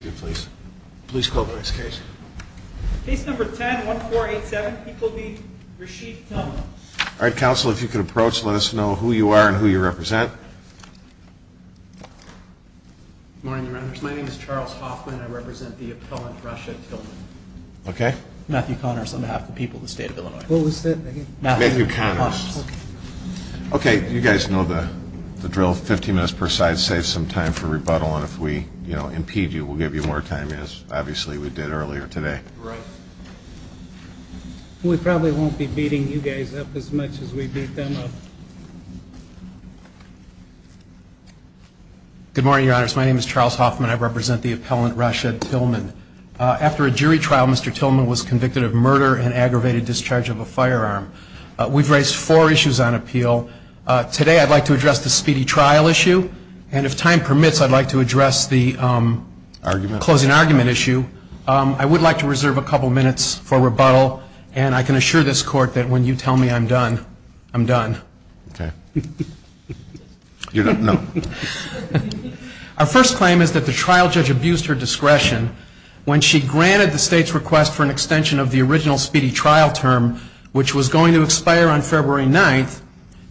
Please call the next case. Case number 10-1487. He will be Rashid Tillman. All right, counsel, if you could approach, let us know who you are and who you represent. Good morning, Your Honor. My name is Charles Hoffman. I represent the appellant, Rasha Tillman. Okay. Matthew Connors, on behalf of the people of the state of Illinois. What was that again? Matthew Connors. Okay, you guys know the drill. Fifteen minutes per side saves some time for rebuttal. And if we, you know, impede you, we'll give you more time, as obviously we did earlier today. Right. We probably won't be beating you guys up as much as we beat them up. Good morning, Your Honors. My name is Charles Hoffman. I represent the appellant, Rashid Tillman. After a jury trial, Mr. Tillman was convicted of murder and aggravated discharge of a firearm. We've raised four issues on appeal. Today I'd like to address the speedy trial issue. And if time permits, I'd like to address the closing argument issue. I would like to reserve a couple minutes for rebuttal. And I can assure this Court that when you tell me I'm done, I'm done. Okay. You're done? No. Our first claim is that the trial judge abused her discretion when she granted the state's request for an extension of the original speedy trial term, which was going to expire on February 9th,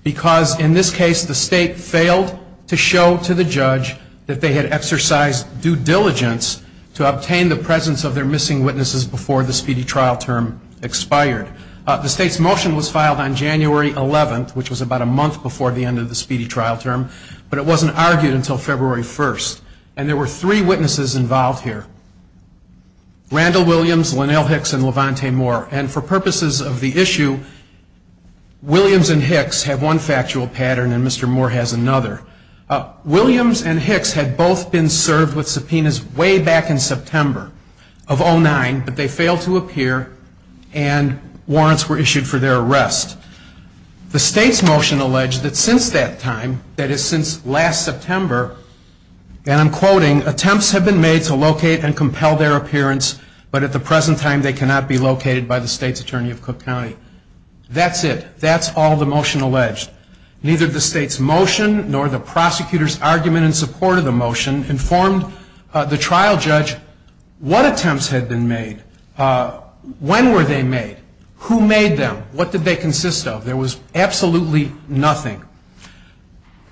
because in this case the state failed to show to the judge that they had exercised due diligence to obtain the presence of their missing witnesses before the speedy trial term expired. The state's motion was filed on January 11th, which was about a month before the end of the speedy trial term, but it wasn't argued until February 1st. And there were three witnesses involved here, Randall Williams, Lynelle Hicks, and Levante Moore. And for purposes of the issue, Williams and Hicks have one factual pattern and Mr. Moore has another. Williams and Hicks had both been served with subpoenas way back in September of 2009, but they failed to appear and warrants were issued for their arrest. The state's motion alleged that since that time, that is since last September, and I'm quoting, attempts have been made to locate and compel their appearance, but at the present time they cannot be located by the state's attorney of Cook County. That's it. That's all the motion alleged. Neither the state's motion nor the prosecutor's argument in support of the motion informed the trial judge what attempts had been made, when were they made, who made them, what did they consist of. There was absolutely nothing.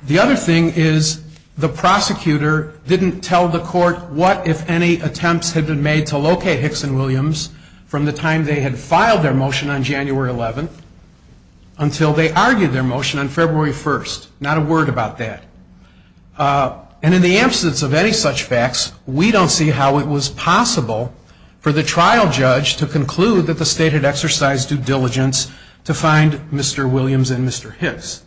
The other thing is the prosecutor didn't tell the court what, if any, attempts had been made to locate Hicks and Williams from the time they had filed their motion on January 11th until they argued their motion on February 1st. Not a word about that. And in the absence of any such facts, we don't see how it was possible for the trial judge to conclude that the state had exercised due diligence to find Mr. Williams and Mr. Hicks.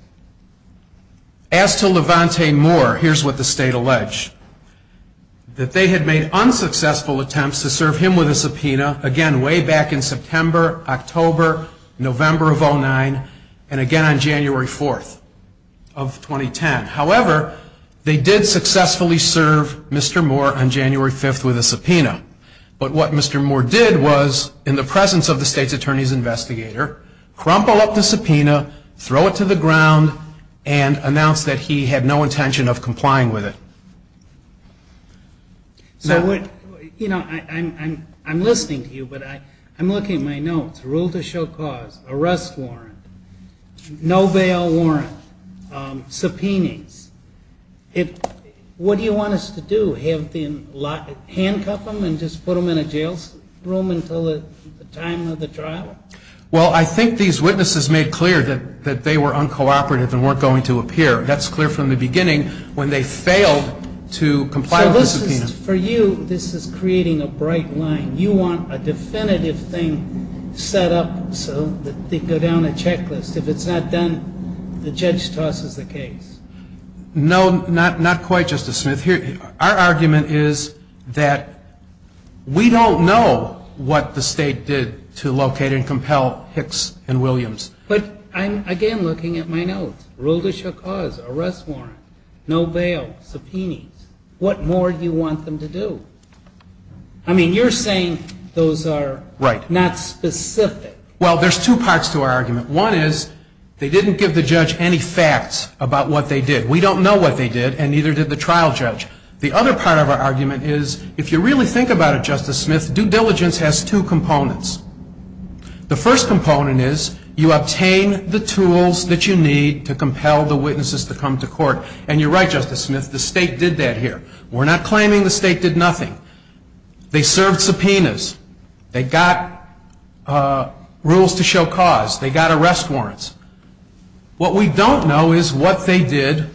As to Levante Moore, here's what the state alleged. That they had made unsuccessful attempts to serve him with a subpoena, again way back in September, October, November of 2009, and again on January 4th of 2010. However, they did successfully serve Mr. Moore on January 5th with a subpoena. But what Mr. Moore did was, in the presence of the state's attorney's investigator, crumple up the subpoena, throw it to the ground, and announce that he had no intention of complying with it. So, you know, I'm listening to you, but I'm looking at my notes. Rule to show cause, arrest warrant, no bail warrant, subpoenas. What do you want us to do? Handcuff him and just put him in a jail room until the time of the trial? Well, I think these witnesses made clear that they were uncooperative and weren't going to appear. That's clear from the beginning when they failed to comply with the subpoena. So this is, for you, this is creating a bright line. You want a definitive thing set up so that they go down a checklist. If it's not done, the judge tosses the case. No, not quite, Justice Smith. Our argument is that we don't know what the state did to locate and compel Hicks and Williams. But I'm, again, looking at my notes. Rule to show cause, arrest warrant, no bail, subpoenas. What more do you want them to do? I mean, you're saying those are not specific. Well, there's two parts to our argument. One is they didn't give the judge any facts about what they did. We don't know what they did, and neither did the trial judge. The other part of our argument is, if you really think about it, Justice Smith, due diligence has two components. The first component is you obtain the tools that you need to compel the witnesses to come to court. And you're right, Justice Smith, the state did that here. We're not claiming the state did nothing. They served subpoenas. They got rules to show cause. They got arrest warrants. What we don't know is what they did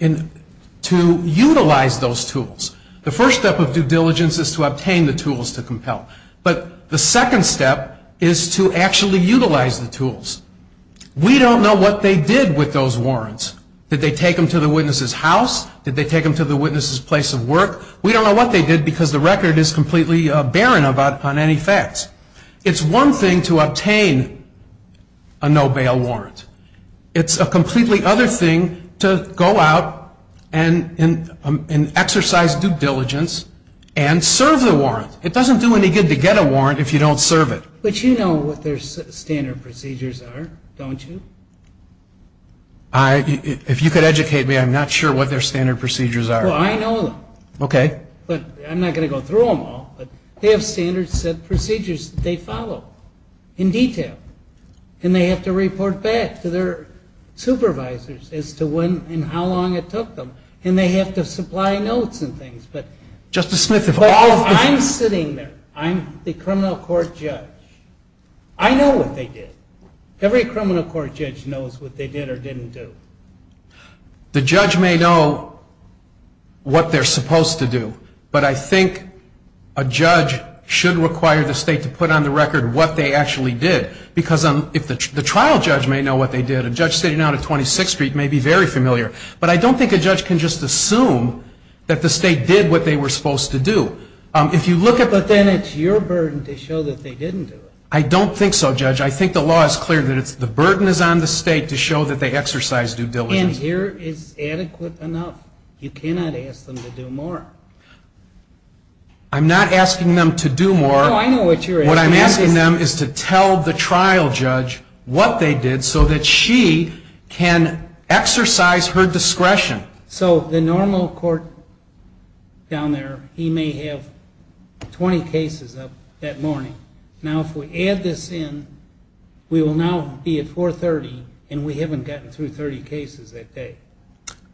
to utilize those tools. The first step of due diligence is to obtain the tools to compel. But the second step is to actually utilize the tools. We don't know what they did with those warrants. Did they take them to the witness's house? Did they take them to the witness's place of work? We don't know what they did because the record is completely barren on any facts. It's one thing to obtain a no-bail warrant. It's a completely other thing to go out and exercise due diligence and serve the warrant. It doesn't do any good to get a warrant if you don't serve it. But you know what their standard procedures are, don't you? If you could educate me, I'm not sure what their standard procedures are. Well, I know them. Okay. But I'm not going to go through them all. But they have standard set procedures that they follow in detail. And they have to report back to their supervisors as to when and how long it took them. And they have to supply notes and things. Justice Smith, if all of the- I'm sitting there. I'm the criminal court judge. I know what they did. Every criminal court judge knows what they did or didn't do. The judge may know what they're supposed to do. But I think a judge should require the State to put on the record what they actually did. Because if the trial judge may know what they did, a judge sitting down at 26th Street may be very familiar. But I don't think a judge can just assume that the State did what they were supposed to do. If you look at- But then it's your burden to show that they didn't do it. I don't think so, Judge. I think the law is clear that the burden is on the State to show that they exercised due diligence. And here is adequate enough. You cannot ask them to do more. I'm not asking them to do more. No, I know what you're asking. What I'm asking them is to tell the trial judge what they did so that she can exercise her discretion. So the normal court down there, he may have 20 cases up that morning. Now, if we add this in, we will now be at 430, and we haven't gotten through 30 cases that day.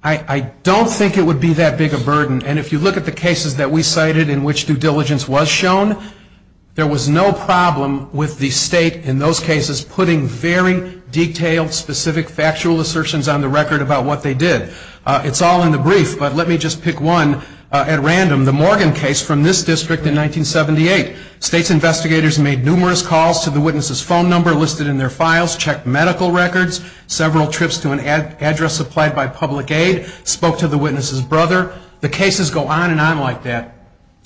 I don't think it would be that big a burden. And if you look at the cases that we cited in which due diligence was shown, there was no problem with the State in those cases putting very detailed, specific factual assertions on the record about what they did. It's all in the brief, but let me just pick one at random. The Morgan case from this district in 1978. State's investigators made numerous calls to the witness's phone number listed in their files, checked medical records, several trips to an address supplied by public aid, spoke to the witness's brother. The cases go on and on like that.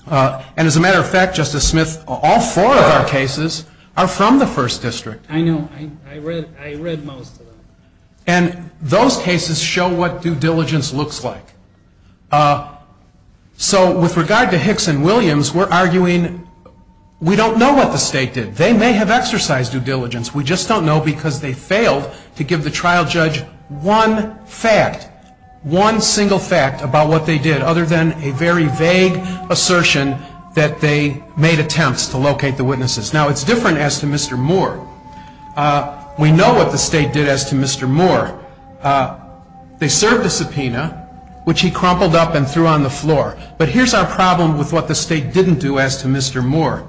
And as a matter of fact, Justice Smith, all four of our cases are from the first district. I know. I read most of them. And those cases show what due diligence looks like. So with regard to Hicks and Williams, we're arguing we don't know what the State did. They may have exercised due diligence. We just don't know because they failed to give the trial judge one fact, one single fact about what they did, other than a very vague assertion that they made attempts to locate the witnesses. Now, it's different as to Mr. Moore. We know what the State did as to Mr. Moore. They served the subpoena, which he crumpled up and threw on the floor. But here's our problem with what the State didn't do as to Mr. Moore.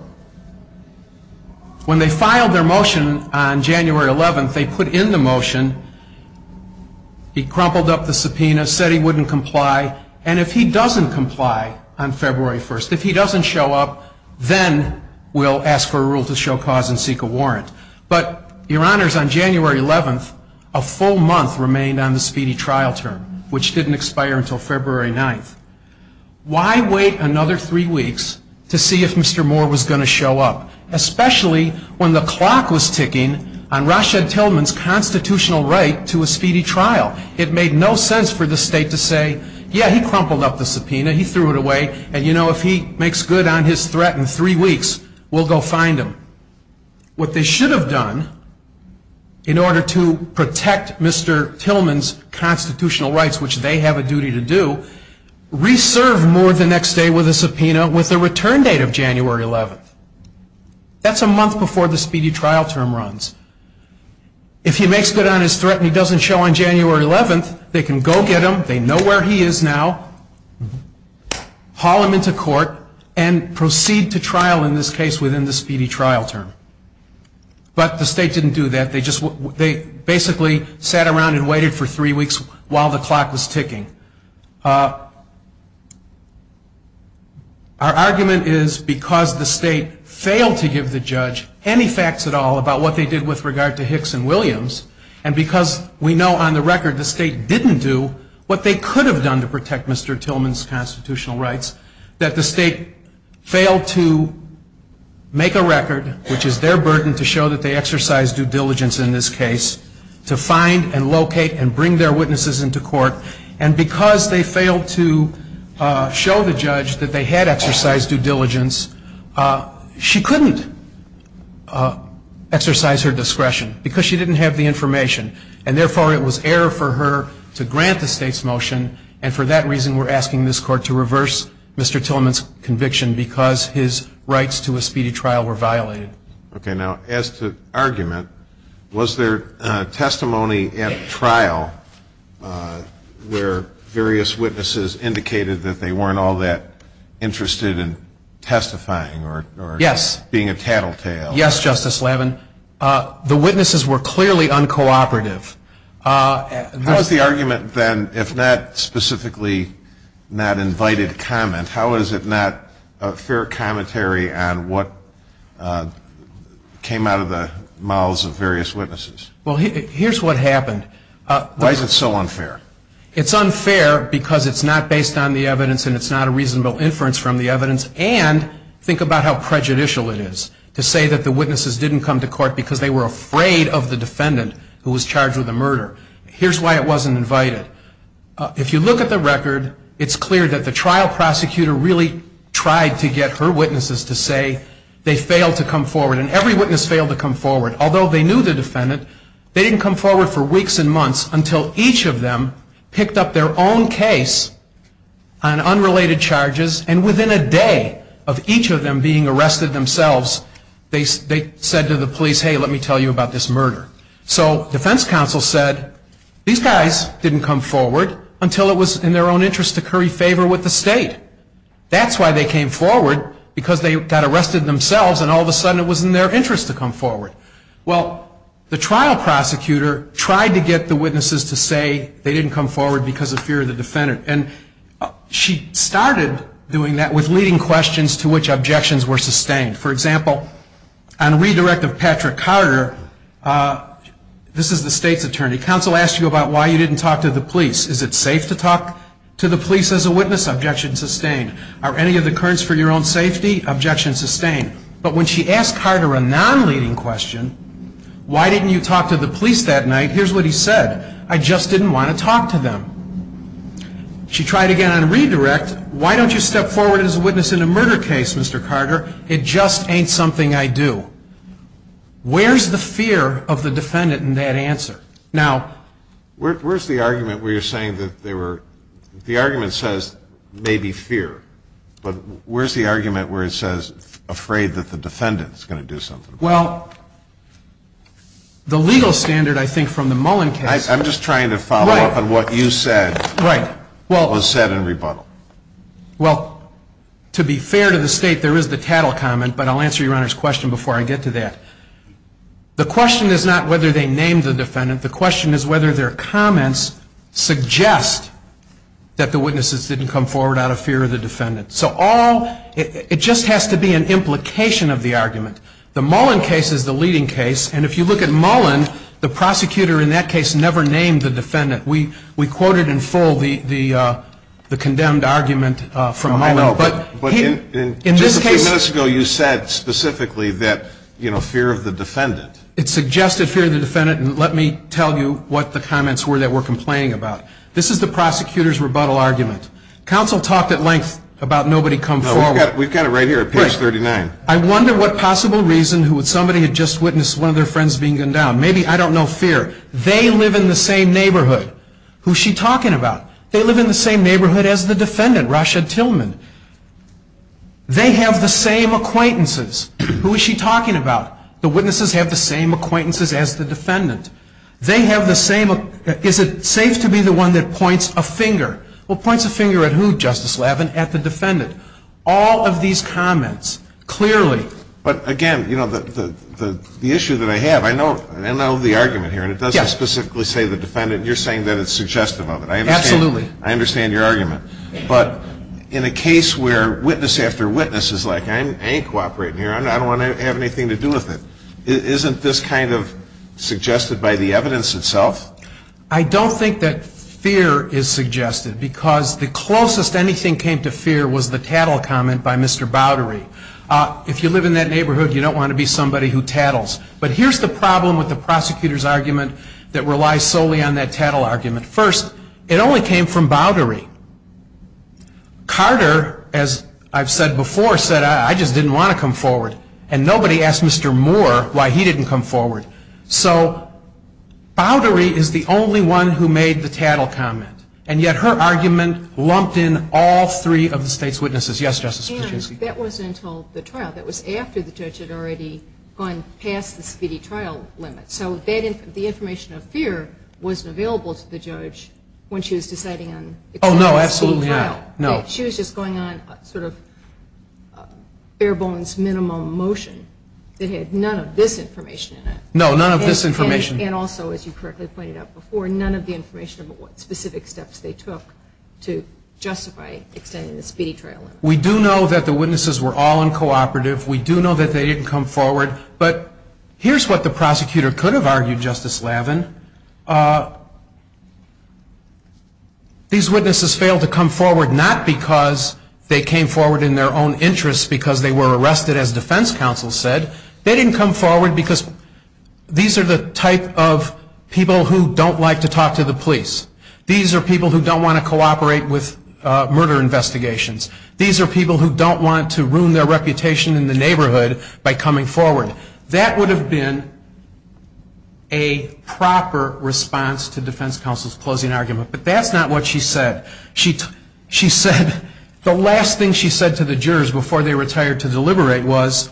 When they filed their motion on January 11th, they put in the motion. He crumpled up the subpoena, said he wouldn't comply. And if he doesn't comply on February 1st, if he doesn't show up, then we'll ask for a rule to show cause and seek a warrant. But, Your Honors, on January 11th, a full month remained on the speedy trial term, which didn't expire until February 9th. Why wait another three weeks to see if Mr. Moore was going to show up, especially when the clock was ticking on Rashad Tillman's constitutional right to a speedy trial? It made no sense for the State to say, yeah, he crumpled up the subpoena, he threw it away, and, you know, if he makes good on his threat in three weeks, we'll go find him. What they should have done in order to protect Mr. Tillman's constitutional rights, which they have a duty to do, reserve Moore the next day with a subpoena with a return date of January 11th. That's a month before the speedy trial term runs. If he makes good on his threat and he doesn't show on January 11th, they can go get him, they know where he is now, haul him into court, and proceed to trial in this case within the speedy trial term. But the State didn't do that. They basically sat around and waited for three weeks while the clock was ticking. Our argument is because the State failed to give the judge any facts at all about what they did with regard to Hicks and Williams, and because we know on the record the State didn't do what they could have done to protect Mr. Tillman's constitutional rights, that the State failed to make a record, which is their burden to show that they exercised due diligence in this case, to find and locate and bring their witnesses into court. And because they failed to show the judge that they had exercised due diligence, she couldn't exercise her discretion because she didn't have the information, and therefore it was error for her to grant the State's motion, and for that reason we're asking this Court to reverse Mr. Tillman's conviction because his rights to a speedy trial were violated. Okay. Now, as to argument, was there testimony at trial where various witnesses indicated that they weren't all that interested in testifying or being a tattletale? Yes. Yes, Justice Levin. The witnesses were clearly uncooperative. How is the argument then, if not specifically not invited comment, how is it not a fair commentary on what came out of the mouths of various witnesses? Well, here's what happened. Why is it so unfair? It's unfair because it's not based on the evidence and it's not a reasonable inference from the evidence, and think about how prejudicial it is to say that the witnesses didn't come to court because they were afraid of the defendant who was charged with the murder. Here's why it wasn't invited. If you look at the record, it's clear that the trial prosecutor really tried to get her witnesses to say they failed to come forward, and every witness failed to come forward. Although they knew the defendant, they didn't come forward for weeks and months until each of them picked up their own case on unrelated charges, and within a day of each of them being arrested themselves, they said to the police, hey, let me tell you about this murder. So defense counsel said, these guys didn't come forward until it was in their own interest to curry favor with the state. That's why they came forward, because they got arrested themselves and all of a sudden it was in their interest to come forward. Well, the trial prosecutor tried to get the witnesses to say they didn't come forward because of fear of the defendant, and she started doing that with leading questions to which objections were sustained. For example, on redirect of Patrick Carter, this is the state's attorney. Counsel asked you about why you didn't talk to the police. Is it safe to talk to the police as a witness? Objection sustained. Are any of the currents for your own safety? Objection sustained. But when she asked Carter a non-leading question, why didn't you talk to the police that night, here's what he said. I just didn't want to talk to them. She tried again on redirect. Why don't you step forward as a witness in a murder case, Mr. Carter? It just ain't something I do. Where's the fear of the defendant in that answer? Now, where's the argument where you're saying that there were, the argument says maybe fear, but where's the argument where it says afraid that the defendant's going to do something about it? Well, the legal standard, I think, from the Mullen case. I'm just trying to follow up on what you said was said in rebuttal. Well, to be fair to the state, there is the Tattle comment, but I'll answer Your Honor's question before I get to that. The question is not whether they named the defendant. The question is whether their comments suggest that the witnesses didn't come forward out of fear of the defendant. So all, it just has to be an implication of the argument. The Mullen case is the leading case, and if you look at Mullen, the prosecutor in that case never named the defendant. We quoted in full the condemned argument from Mullen. But just a few minutes ago you said specifically that, you know, fear of the defendant. It suggested fear of the defendant, and let me tell you what the comments were that we're complaining about. This is the prosecutor's rebuttal argument. Counsel talked at length about nobody come forward. We've got it right here at page 39. I wonder what possible reason somebody had just witnessed one of their friends being gunned down. Maybe, I don't know, fear. They live in the same neighborhood. Who's she talking about? They live in the same neighborhood as the defendant, Rasha Tillman. They have the same acquaintances. Who is she talking about? The witnesses have the same acquaintances as the defendant. They have the same, is it safe to be the one that points a finger? Well, points a finger at who, Justice Levin? At the defendant. All of these comments clearly. But, again, you know, the issue that I have, I know the argument here, and it doesn't specifically say the defendant. You're saying that it's suggestive of it. Absolutely. I understand your argument. But in a case where witness after witness is like, I ain't cooperating here, I don't want to have anything to do with it, isn't this kind of suggested by the evidence itself? I don't think that fear is suggested, because the closest anything came to fear was the tattle comment by Mr. Bowdery. If you live in that neighborhood, you don't want to be somebody who tattles. But here's the problem with the prosecutor's argument that relies solely on that tattle argument. First, it only came from Bowdery. Carter, as I've said before, said, I just didn't want to come forward. And nobody asked Mr. Moore why he didn't come forward. So Bowdery is the only one who made the tattle comment, and yet her argument lumped in all three of the State's witnesses. Yes, Justice Kuczynski. And that wasn't until the trial. That was after the judge had already gone past the speedy trial limit. So the information of fear wasn't available to the judge when she was deciding on the trial. Oh, no, absolutely not. No. She was just going on sort of bare bones minimum motion that had none of this information in it. No, none of this information. And also, as you correctly pointed out before, none of the information of what specific steps they took to justify extending the speedy trial limit. We do know that the witnesses were all uncooperative. We do know that they didn't come forward. But here's what the prosecutor could have argued, Justice Lavin. These witnesses failed to come forward not because they came forward in their own interest because they were arrested, as defense counsel said. They didn't come forward because these are the type of people who don't like to talk to the police. These are people who don't want to cooperate with murder investigations. These are people who don't want to ruin their reputation in the neighborhood by coming forward. That would have been a proper response to defense counsel's closing argument. But that's not what she said. She said the last thing she said to the jurors before they retired to deliberate was,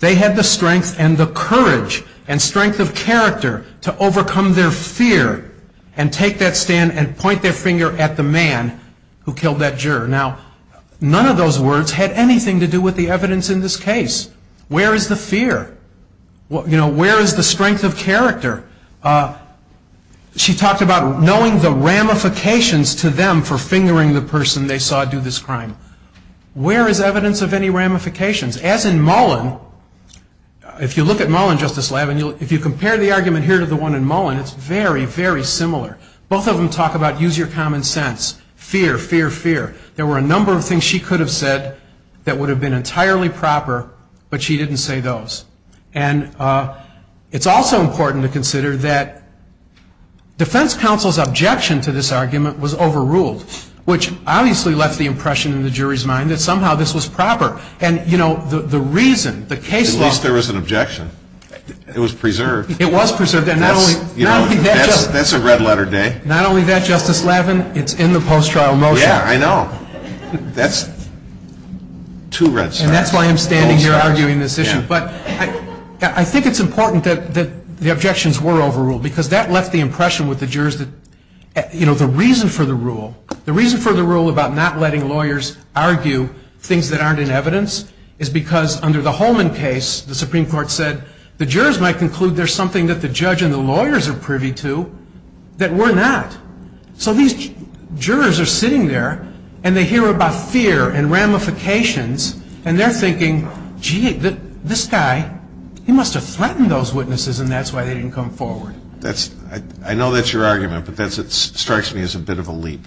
they had the strength and the courage and strength of character to overcome their fear and take that stand and point their finger at the man who killed that juror. Now, none of those words had anything to do with the evidence in this case. Where is the fear? Where is the strength of character? She talked about knowing the ramifications to them for fingering the person they saw do this crime. Where is evidence of any ramifications? As in Mullen, if you look at Mullen, Justice Lavin, if you compare the argument here to the one in Mullen, it's very, very similar. Both of them talk about use your common sense, fear, fear, fear. There were a number of things she could have said that would have been entirely proper, but she didn't say those. And it's also important to consider that defense counsel's objection to this argument was overruled, which obviously left the impression in the jury's mind that somehow this was proper. And, you know, the reason, the case law. At least there was an objection. It was preserved. It was preserved. That's a red letter day. Not only that, Justice Lavin, it's in the post-trial motion. Yeah, I know. That's two red stars. And that's why I'm standing here arguing this issue. But I think it's important that the objections were overruled because that left the impression with the jurors that, you know, the reason for the rule, the reason for the rule about not letting lawyers argue things that aren't in evidence is because under the Holman case, the Supreme Court said the jurors might conclude there's something that the judge and the lawyers are privy to that we're not. So these jurors are sitting there, and they hear about fear and ramifications, and they're thinking, gee, this guy, he must have threatened those witnesses, and that's why they didn't come forward. I know that's your argument, but it strikes me as a bit of a leap.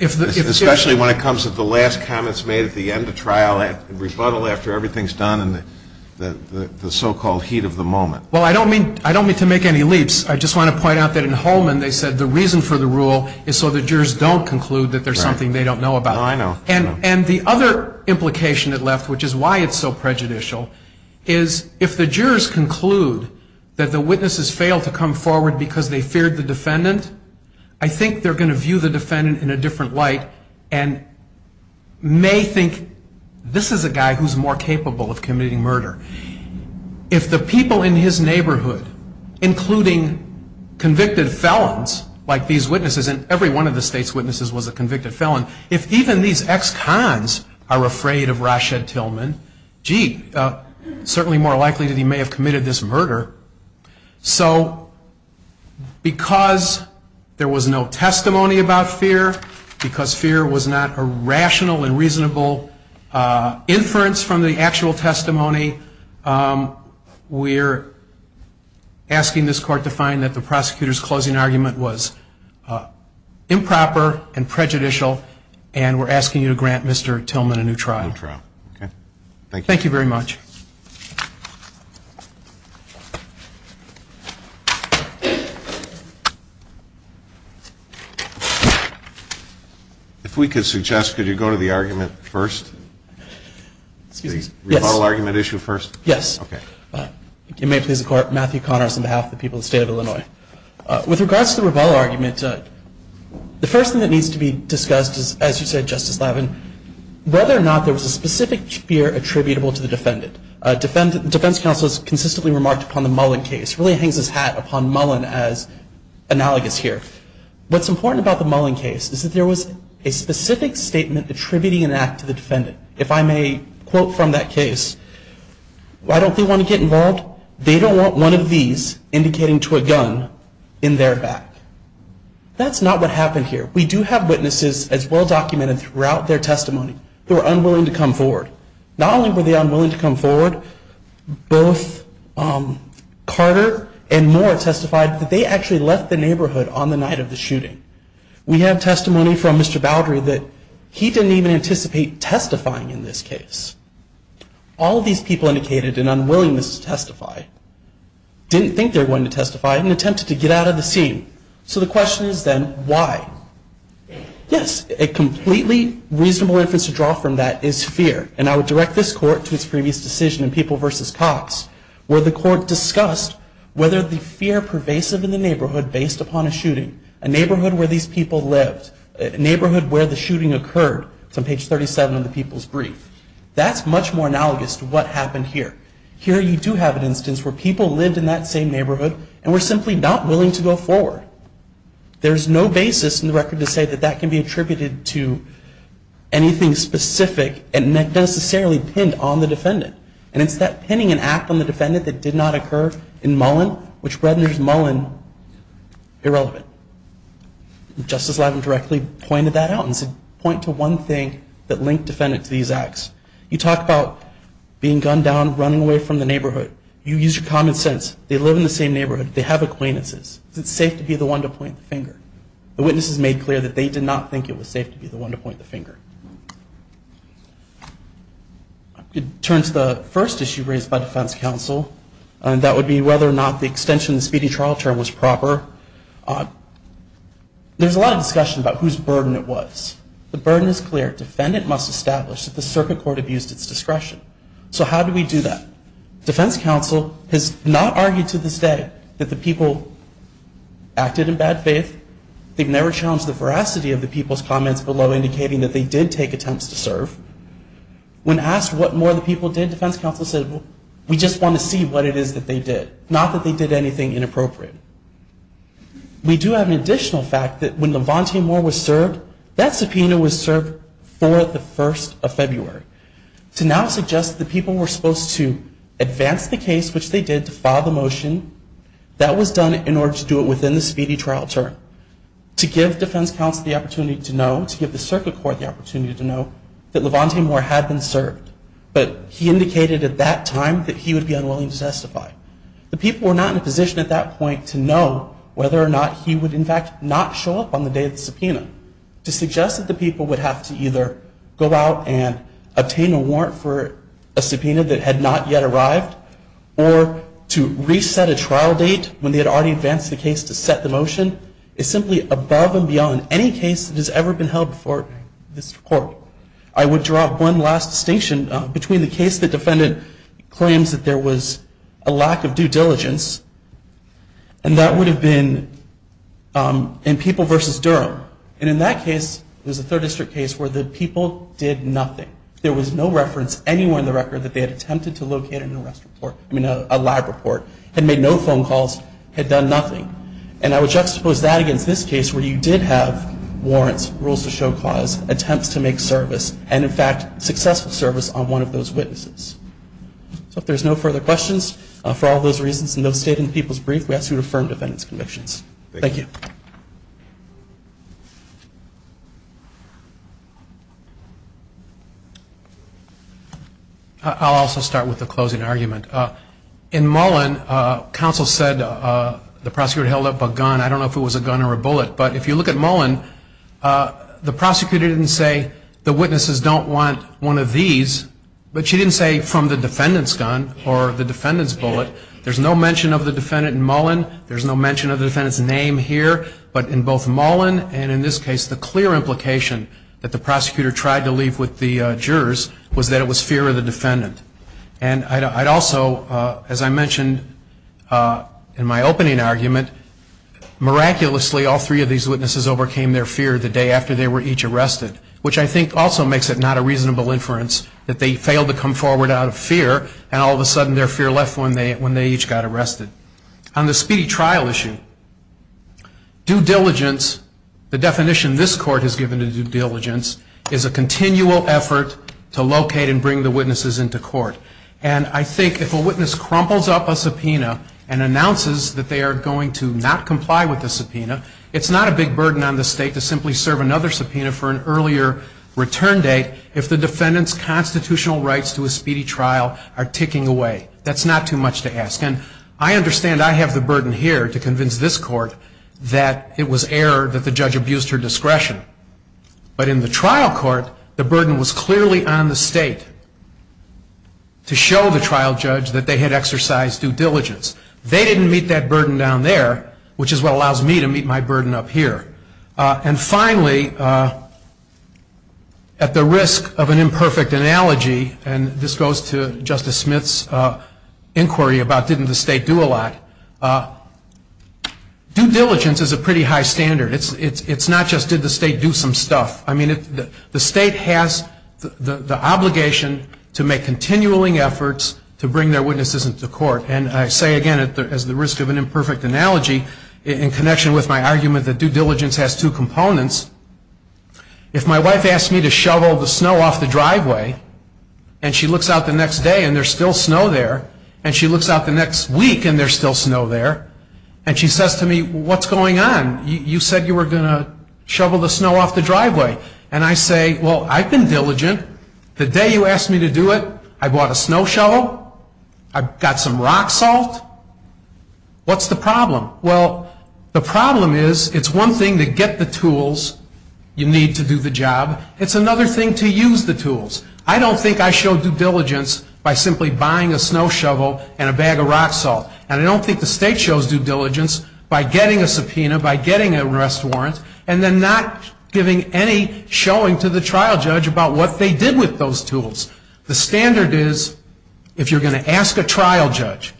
Especially when it comes to the last comments made at the end of trial and rebuttal after everything's done and the so-called heat of the moment. Well, I don't mean to make any leaps. I just want to point out that in Holman they said the reason for the rule is so the jurors don't conclude that there's something they don't know about. Oh, I know. And the other implication it left, which is why it's so prejudicial, is if the jurors conclude that the witnesses failed to come forward because they feared the defendant, I think they're going to view the defendant in a different light and may think this is a guy who's more capable of committing murder. If the people in his neighborhood, including convicted felons like these witnesses, and every one of the state's witnesses was a convicted felon, if even these ex-cons are afraid of Rashed Tillman, gee, certainly more likely that he may have committed this murder. So because there was no testimony about fear, because fear was not a rational and reasonable inference from the actual testimony, we're asking this Court to find that the prosecutor's closing argument was improper and prejudicial, and we're asking you to grant Mr. Tillman a new trial. A new trial, okay. Thank you. Thank you very much. If we could suggest, could you go to the argument first? Excuse me? Yes. Rebello argument issue first? Yes. Okay. If you may, please, the Court. Matthew Connors on behalf of the people of the State of Illinois. With regards to the Rebello argument, the first thing that needs to be discussed is, as you said, Justice Lavin, whether or not there was a specific fear attributable to the defendant. The defense counsel has consistently remarked upon the Mullen case, really hangs his hat upon Mullen as analogous here. What's important about the Mullen case is that there was a specific statement attributing an act to the defendant. If I may quote from that case, why don't they want to get involved? They don't want one of these indicating to a gun in their back. That's not what happened here. We do have witnesses, as well documented throughout their testimony, who are unwilling to come forward. Not only were they unwilling to come forward, both Carter and Moore testified that they actually left the neighborhood on the night of the shooting. We have testimony from Mr. Boudry that he didn't even anticipate testifying in this case. All of these people indicated an unwillingness to testify, didn't think they were going to testify, and attempted to get out of the scene. So the question is then, why? Yes, a completely reasonable inference to draw from that is fear. And I would direct this Court to its previous decision in People v. Cox, where the Court discussed whether the fear pervasive in the neighborhood based upon a shooting, a neighborhood where these people lived, a neighborhood where the shooting occurred. It's on page 37 of the People's Brief. That's much more analogous to what happened here. Here you do have an instance where people lived in that same neighborhood and were simply not willing to go forward. There's no basis in the record to say that that can be attributed to anything specific and not necessarily pinned on the defendant. No, which renders Mullen irrelevant. Justice Levin directly pointed that out and said, point to one thing that linked defendant to these acts. You talk about being gunned down, running away from the neighborhood. You use your common sense. They live in the same neighborhood. They have acquaintances. Is it safe to be the one to point the finger? The witnesses made clear that they did not think it was safe to be the one to point the finger. It turns to the first issue raised by defense counsel, and that would be whether or not the extension of the speeding trial term was proper. There's a lot of discussion about whose burden it was. The burden is clear. Defendant must establish that the circuit court abused its discretion. So how do we do that? Defense counsel has not argued to this day that the people acted in bad faith. They've never challenged the veracity of the people's comments below indicating that they did take attempts to serve. When asked what more the people did, defense counsel said, well, we just want to see what it is that they did, not that they did anything inappropriate. We do have an additional fact that when Levante Moore was served, that subpoena was served for the 1st of February. To now suggest that people were supposed to advance the case, which they did, to file the motion, that was done in order to do it within the speedy trial term, to give defense counsel the opportunity to know, to give the circuit court the opportunity to know, that Levante Moore had been served. But he indicated at that time that he would be unwilling to testify. The people were not in a position at that point to know whether or not he would, in fact, not show up on the day of the subpoena. To suggest that the people would have to either go out and obtain a warrant for a subpoena that had not yet arrived, or to reset a trial date when they had already advanced the case to set the motion, is simply above and beyond any case that has ever been held before this court. I would draw one last distinction between the case the defendant claims that there was a lack of due diligence, and that would have been in People v. Durham. And in that case, it was a 3rd District case where the people did nothing. There was no reference anywhere in the record that they had attempted to locate an arrest report, I mean a lab report, had made no phone calls, had done nothing. And I would juxtapose that against this case where you did have warrants, rules to show cause, attempts to make service, and in fact successful service on one of those witnesses. So if there's no further questions, for all those reasons, and no state in the people's brief, we ask you to affirm the defendant's convictions. Thank you. I'll also start with the closing argument. In Mullen, counsel said the prosecutor held up a gun. I don't know if it was a gun or a bullet, but if you look at Mullen, the prosecutor didn't say the witnesses don't want one of these, but she didn't say from the defendant's gun or the defendant's bullet. There's no mention of the defendant in Mullen. There's no mention of the defendant's name here. But in both Mullen and in this case, the clear implication that the prosecutor tried to leave with the jurors was that it was fear of the defendant. And I'd also, as I mentioned in my opening argument, miraculously all three of these witnesses overcame their fear the day after they were each arrested, which I think also makes it not a reasonable inference that they failed to come forward out of fear, and all of a sudden their fear left when they each got arrested. On the speedy trial issue, due diligence, the definition this court has given to due diligence, is a continual effort to locate and bring the witnesses into court. And I think if a witness crumples up a subpoena and announces that they are going to not comply with the subpoena, it's not a big burden on the state to simply serve another subpoena for an earlier return date if the defendant's constitutional rights to a speedy trial are ticking away. That's not too much to ask. And I understand I have the burden here to convince this court that it was error that the judge abused her discretion. But in the trial court, the burden was clearly on the state to show the trial judge that they had exercised due diligence. They didn't meet that burden down there, which is what allows me to meet my burden up here. And finally, at the risk of an imperfect analogy, and this goes to Justice Smith's inquiry about didn't the state do a lot, due diligence is a pretty high standard. It's not just did the state do some stuff. I mean, the state has the obligation to make continuing efforts to bring their witnesses into court. And I say again, at the risk of an imperfect analogy, in connection with my argument that due diligence has two components, if my wife asks me to shovel the snow off the driveway, and she looks out the next day and there's still snow there, and she looks out the next week and there's still snow there, and she says to me, what's going on? You said you were going to shovel the snow off the driveway. And I say, well, I've been diligent. The day you asked me to do it, I bought a snow shovel. I got some rock salt. What's the problem? Well, the problem is it's one thing to get the tools you need to do the job. It's another thing to use the tools. I don't think I showed due diligence by simply buying a snow shovel and a bag of rock salt. And I don't think the state shows due diligence by getting a subpoena, by getting an arrest warrant, and then not giving any showing to the trial judge about what they did with those tools. The standard is, if you're going to ask a trial judge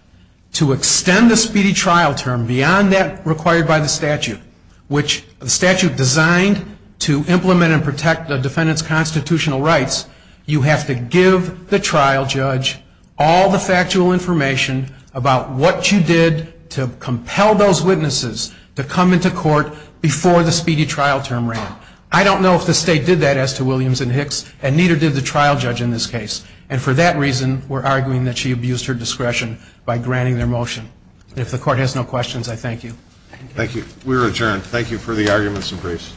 to extend the speedy trial term beyond that required by the statute, which the statute designed to implement and protect the defendant's constitutional rights, you have to give the trial judge all the factual information about what you did to compel those witnesses to come into court before the speedy trial term ran. I don't know if the state did that as to Williams and Hicks, and neither did the trial judge in this case. And for that reason, we're arguing that she abused her discretion by granting their motion. And if the court has no questions, I thank you. Thank you. We're adjourned. Thank you for the arguments and briefs.